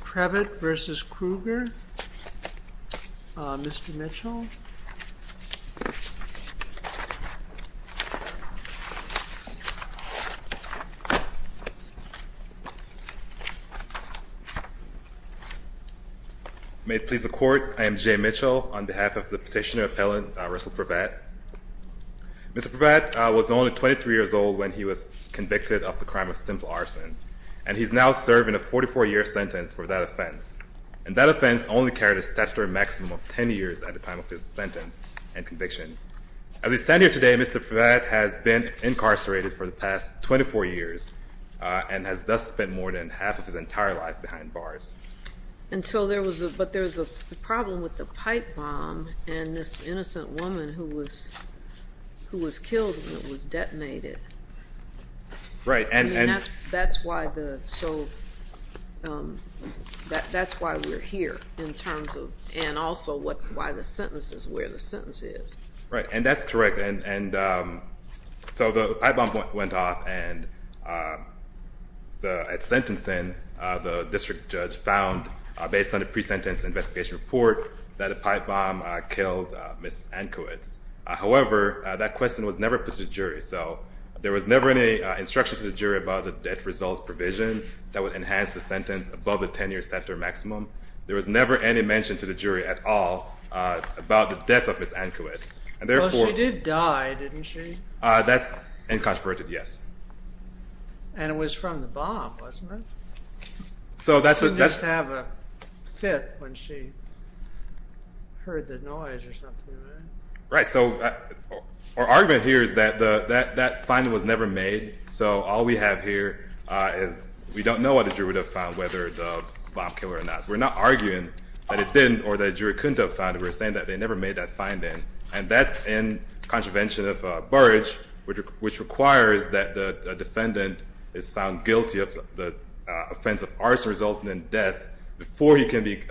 Prevatte v. Krueger, Mr. Mitchell May it please the Court, I am Jay Mitchell on behalf of the Petitioner Appellant Russell Prevatte Mr. Prevatte was only 23 years old when he was convicted of the crime of simple arson and he's now serving a 44 year sentence for that offense. And that offense only carried a statutory maximum of 10 years at the time of his sentence and conviction. As we stand here today, Mr. Prevatte has been incarcerated for the past 24 years and has thus spent more than half of his entire life behind bars. But there's a problem with the pipe bomb and this innocent woman who was killed when it was detonated. That's why we're here in terms of, and also why the sentence is where the sentence is. Right, and that's correct. So the pipe bomb went off and at sentencing the district judge found, based on the pre-sentence investigation report, that the pipe bomb killed Ms. Ankowitz. However, that question was never put to the jury. So there was never any instruction to the jury about the death results provision that would enhance the sentence above the 10 year statutory maximum. There was never any mention to the jury at all about the death of Ms. Ankowitz. Well, she did die, didn't she? That's incontroverted, yes. And it was from the bomb, wasn't it? She did just have a fit when she heard the noise or something. Right, so our argument here is that that finding was never made. So all we have here is we don't know what the jury would have found, whether the bomb killed her or not. We're not arguing that it didn't or that the jury couldn't have found it. We're saying that they never made that finding. And that's in contravention of Burrage, which requires that the defendant is found guilty of the offense of arson resulting in death before he can be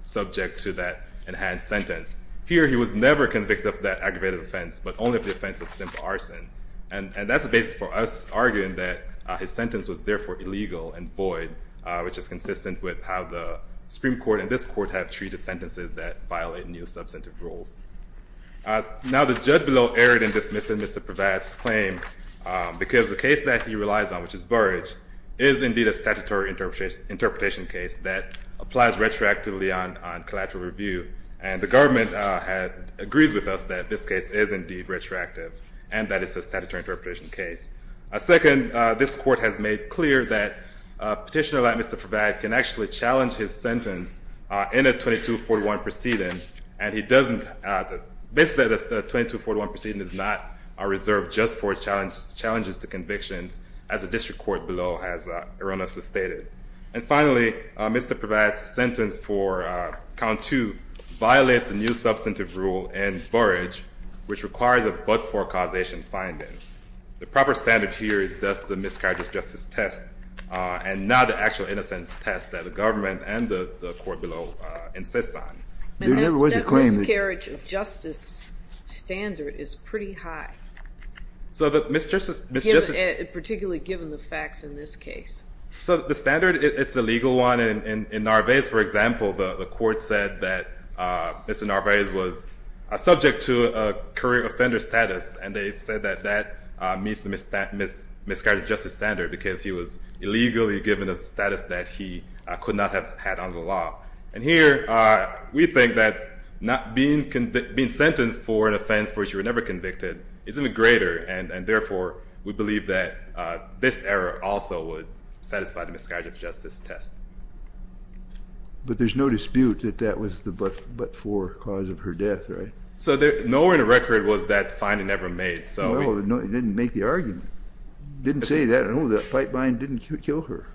subject to that enhanced sentence. Here, he was never convicted of that aggravated offense, but only of the offense of simple arson. And that's the basis for us arguing that his sentence was, therefore, illegal and void, which is consistent with how the Supreme Court and this Court have treated sentences that violate new substantive rules. Now, the judge below erred in dismissing Mr. Prevatt's claim, because the case that he relies on, which is Burrage, is indeed a statutory interpretation case that applies retroactively on collateral review. And the government agrees with us that this case is indeed retroactive, and that it's a statutory interpretation case. Second, this Court has made clear that a petitioner like Mr. Prevatt can actually challenge his sentence in a 2241 proceeding, and he doesn't – basically, a 2241 proceeding is not reserved just for challenges to convictions, as the district court below has erroneously stated. And finally, Mr. Prevatt's sentence for count two violates a new substantive rule in Burrage, which requires a but-for causation finding. The proper standard here is thus the miscarriage of justice test, and not the actual innocence test that the government and the court below insists on. And that miscarriage of justice standard is pretty high, particularly given the facts in this case. So the standard, it's a legal one. In Narvaez, for example, the court said that Mr. Narvaez was subject to a career offender status, and they said that that meets the miscarriage of justice standard because he was illegally given a status that he could not have had under the law. And here we think that being sentenced for an offense for which you were never convicted is even greater, and therefore we believe that this error also would satisfy the miscarriage of justice test. But there's no dispute that that was the but-for cause of her death, right? So nowhere in the record was that finding ever made. No, it didn't make the argument. It didn't say that. No, that pipevine didn't kill her.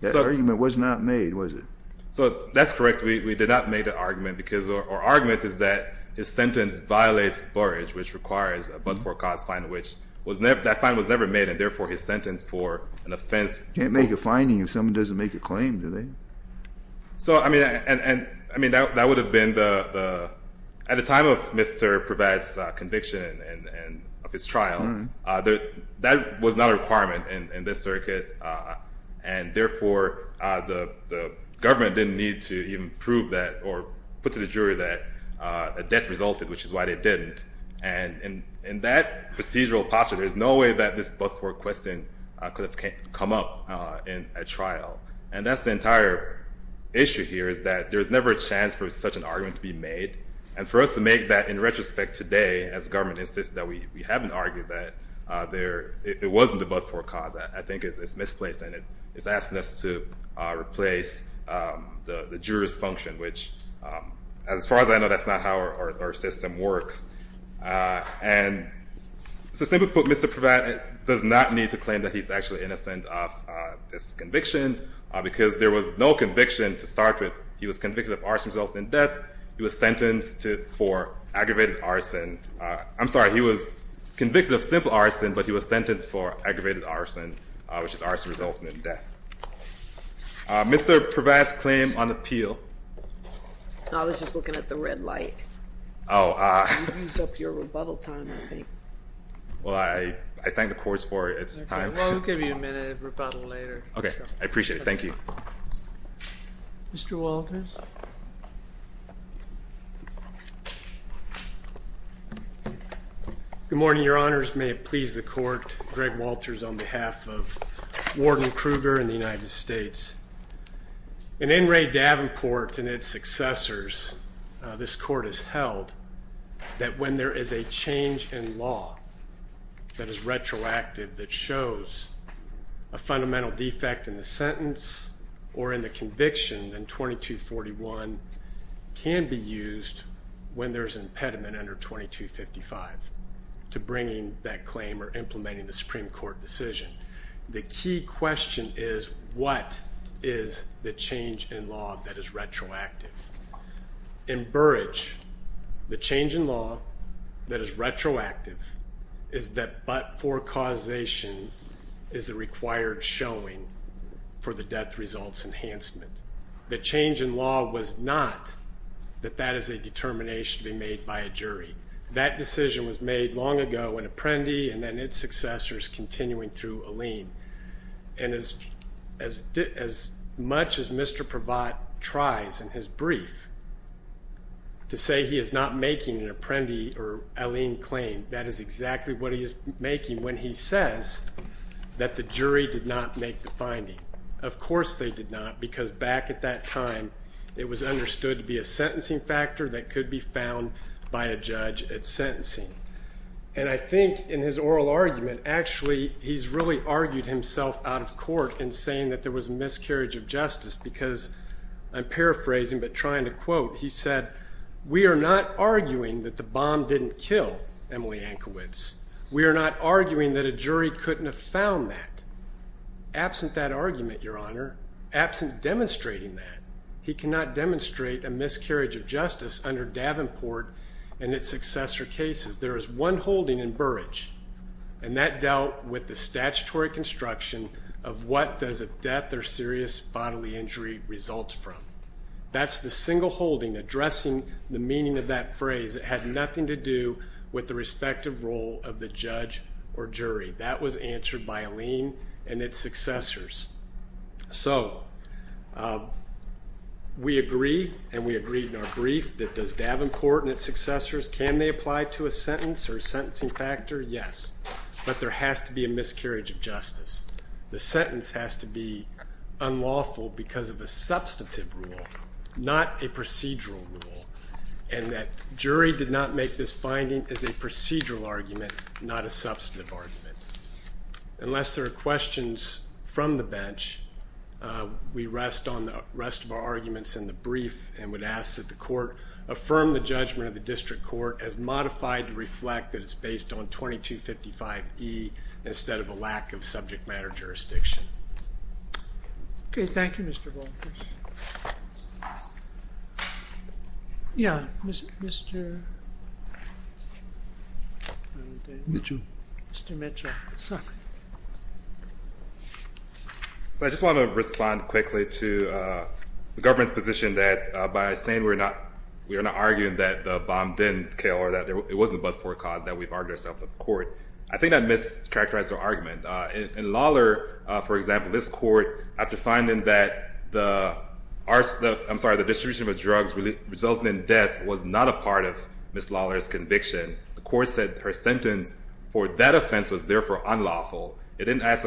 That argument was not made, was it? So that's correct. We did not make the argument. Our argument is that his sentence violates Burrage, which requires a but-for cause finding, which that finding was never made, and therefore his sentence for an offense. You can't make a finding if someone doesn't make a claim, do they? So, I mean, that would have been the at the time of Mr. Prevatt's conviction and of his trial, that was not a requirement in this circuit, and therefore the government didn't need to even prove that or put to the jury that a death resulted, which is why they didn't. And in that procedural posture, there's no way that this but-for question could have come up in a trial, and that's the entire issue here is that there's never a chance for such an argument to be made, and for us to make that in retrospect today, as government insists that we haven't argued that, it wasn't a but-for cause. I think it's misplaced, and it's asking us to replace the juror's function, which as far as I know, that's not how our system works. And to simply put, Mr. Prevatt does not need to claim that he's actually innocent of this conviction, because there was no conviction to start with. He was convicted of arson resulting in death. He was sentenced for aggravated arson. I'm sorry, he was convicted of simple arson, but he was sentenced for aggravated arson, which is arson resulting in death. Mr. Prevatt's claim on appeal. I was just looking at the red light. You've used up your rebuttal time, I think. Well, I thank the courts for it. Well, we'll give you a minute of rebuttal later. Okay, I appreciate it. Thank you. Mr. Walters. Good morning, Your Honors. May it please the Court, Greg Walters on behalf of Warden Kruger and the United States. In In re Davenport and its successors, this Court has held that when there is a change in law that is retroactive, that shows a fundamental defect in the sentence or in the conviction, then 2241 can be used when there's an impediment under 2255 to bringing that claim or implementing the Supreme Court decision. The key question is, what is the change in law that is retroactive? In Burrage, the change in law that is retroactive is that but for causation is a required showing for the death results enhancement. The change in law was not that that is a determination to be made by a jury. That decision was made long ago when Apprendi and then its successors continuing through Alleyne. And as much as Mr. Provatt tries in his brief to say he is not making an Apprendi or Alleyne claim, that is exactly what he is making when he says that the jury did not make the finding. Of course they did not because back at that time it was understood to be a sentencing factor that could be found by a judge at sentencing. And I think in his oral argument, actually he's really argued himself out of court in saying that there was a miscarriage of justice because I'm paraphrasing but trying to quote. He said, we are not arguing that the bomb didn't kill Emily Ankawitz. We are not arguing that a jury couldn't have found that. Absent that argument, Your Honor, absent demonstrating that, he cannot demonstrate a miscarriage of justice under Davenport and its successor cases. There is one holding in Burrage, and that dealt with the statutory construction of what does a death or serious bodily injury result from. That's the single holding addressing the meaning of that phrase. It had nothing to do with the respective role of the judge or jury. That was answered by Alleyne and its successors. So we agree, and we agreed in our brief, that does Davenport and its successors, can they apply to a sentence or a sentencing factor? Yes, but there has to be a miscarriage of justice. The sentence has to be unlawful because of a substantive rule, not a procedural rule, and that jury did not make this finding as a procedural argument, not a substantive argument. Unless there are questions from the bench, we rest on the rest of our arguments in the brief and would ask that the court affirm the judgment of the district court as modified to reflect that it's based on 2255E instead of a lack of subject matter jurisdiction. Okay, thank you, Mr. Walters. Yeah, Mr. Mitchell. So I just want to respond quickly to the government's position that by saying we're not arguing that the bomb didn't kill or that it wasn't but for a cause that we've argued ourselves in court. I think that mischaracterized our argument. In Lawler, for example, this court, after finding that the distribution of drugs resulting in death was not a part of Ms. Lawler's conviction, the court said her sentence for that offense was, therefore, unlawful. It didn't ask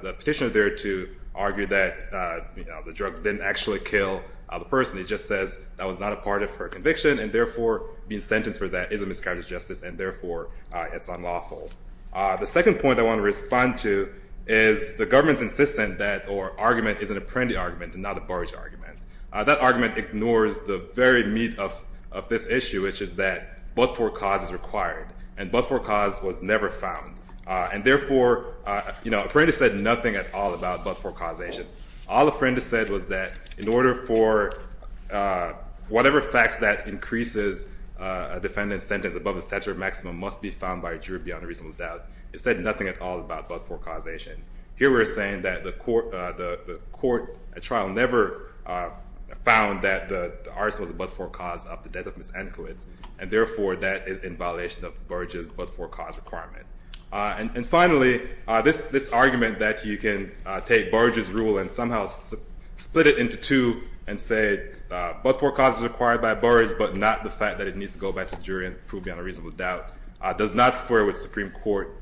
the petitioner there to argue that the drugs didn't actually kill the person. It just says that was not a part of her conviction and, therefore, being sentenced for that is a mischaracterized justice and, therefore, it's unlawful. The second point I want to respond to is the government's insistence that our argument is an Apprendi argument and not a Burrage argument. That argument ignores the very meat of this issue, which is that but-for-cause is required, and but-for-cause was never found. And, therefore, Apprendi said nothing at all about but-for-causation. All Apprendi said was that in order for whatever facts that increases a defendant's sentence above a statute of maximum must be found by a jury beyond a reasonable doubt. It said nothing at all about but-for-causation. Here we're saying that the court at trial never found that the arson was a but-for-cause of the death of Ms. Antkowitz, and, therefore, that is in violation of Burrage's but-for-cause requirement. And, finally, this argument that you can take Burrage's rule and somehow split it into two and say but-for-cause is required by Burrage but not the fact that it needs to go back to the jury and prove beyond a reasonable doubt does not square with Supreme Court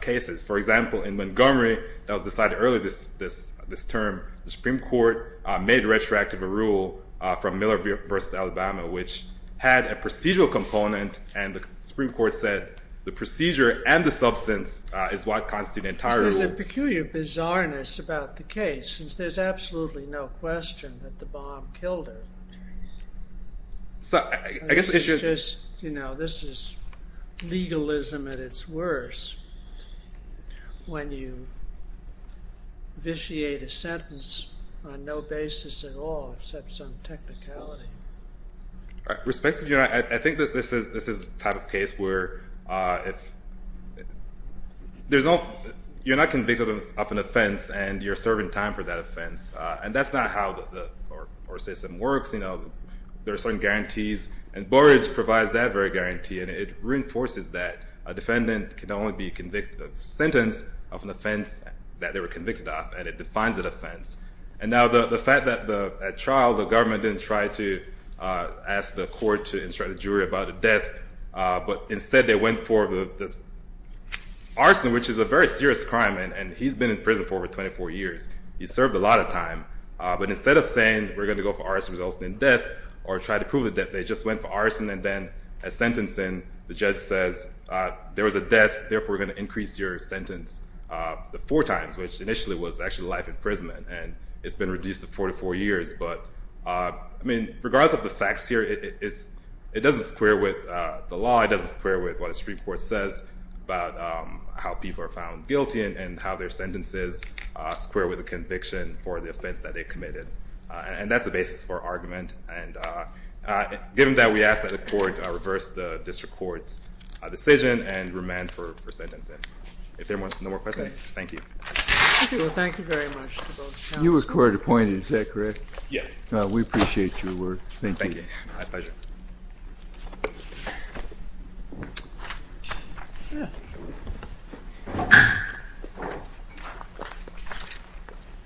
cases. For example, in Montgomery, that was decided earlier this term, the Supreme Court made retroactive a rule from Miller v. Alabama, which had a procedural component, and the Supreme Court said the procedure and the substance is what constitute an entire rule. There's a peculiar bizarreness about the case, since there's absolutely no question that the bomb killed her. This is legalism at its worst when you vitiate a sentence on no basis at all except some technicality. I think that this is the type of case where you're not convicted of an offense and you're serving time for that offense. And that's not how the court system works. There are certain guarantees, and Burrage provides that very guarantee, and it reinforces that a defendant can only be convicted of a sentence of an offense that they were convicted of, and it defines that offense. And now the fact that at trial the government didn't try to ask the court to instruct the jury about the death, but instead they went for this arson, which is a very serious crime, and he's been in prison for over 24 years. He served a lot of time. But instead of saying we're going to go for arson resulting in death, or try to prove the death, they just went for arson, and then at sentencing the judge says there was a death, therefore we're going to increase your sentence four times, which initially was actually life imprisonment, and it's been reduced to 44 years. But, I mean, regardless of the facts here, it doesn't square with the law. It doesn't square with what a Supreme Court says about how people are found guilty and how their sentences square with the conviction for the offense that they committed. And that's the basis for argument. And given that, we ask that the court reverse the district court's decision and remand for sentencing. If there are no more questions, thank you. Okay, well, thank you very much to both counts. You were court appointed, is that correct? Yes. We appreciate your work. Thank you. My pleasure.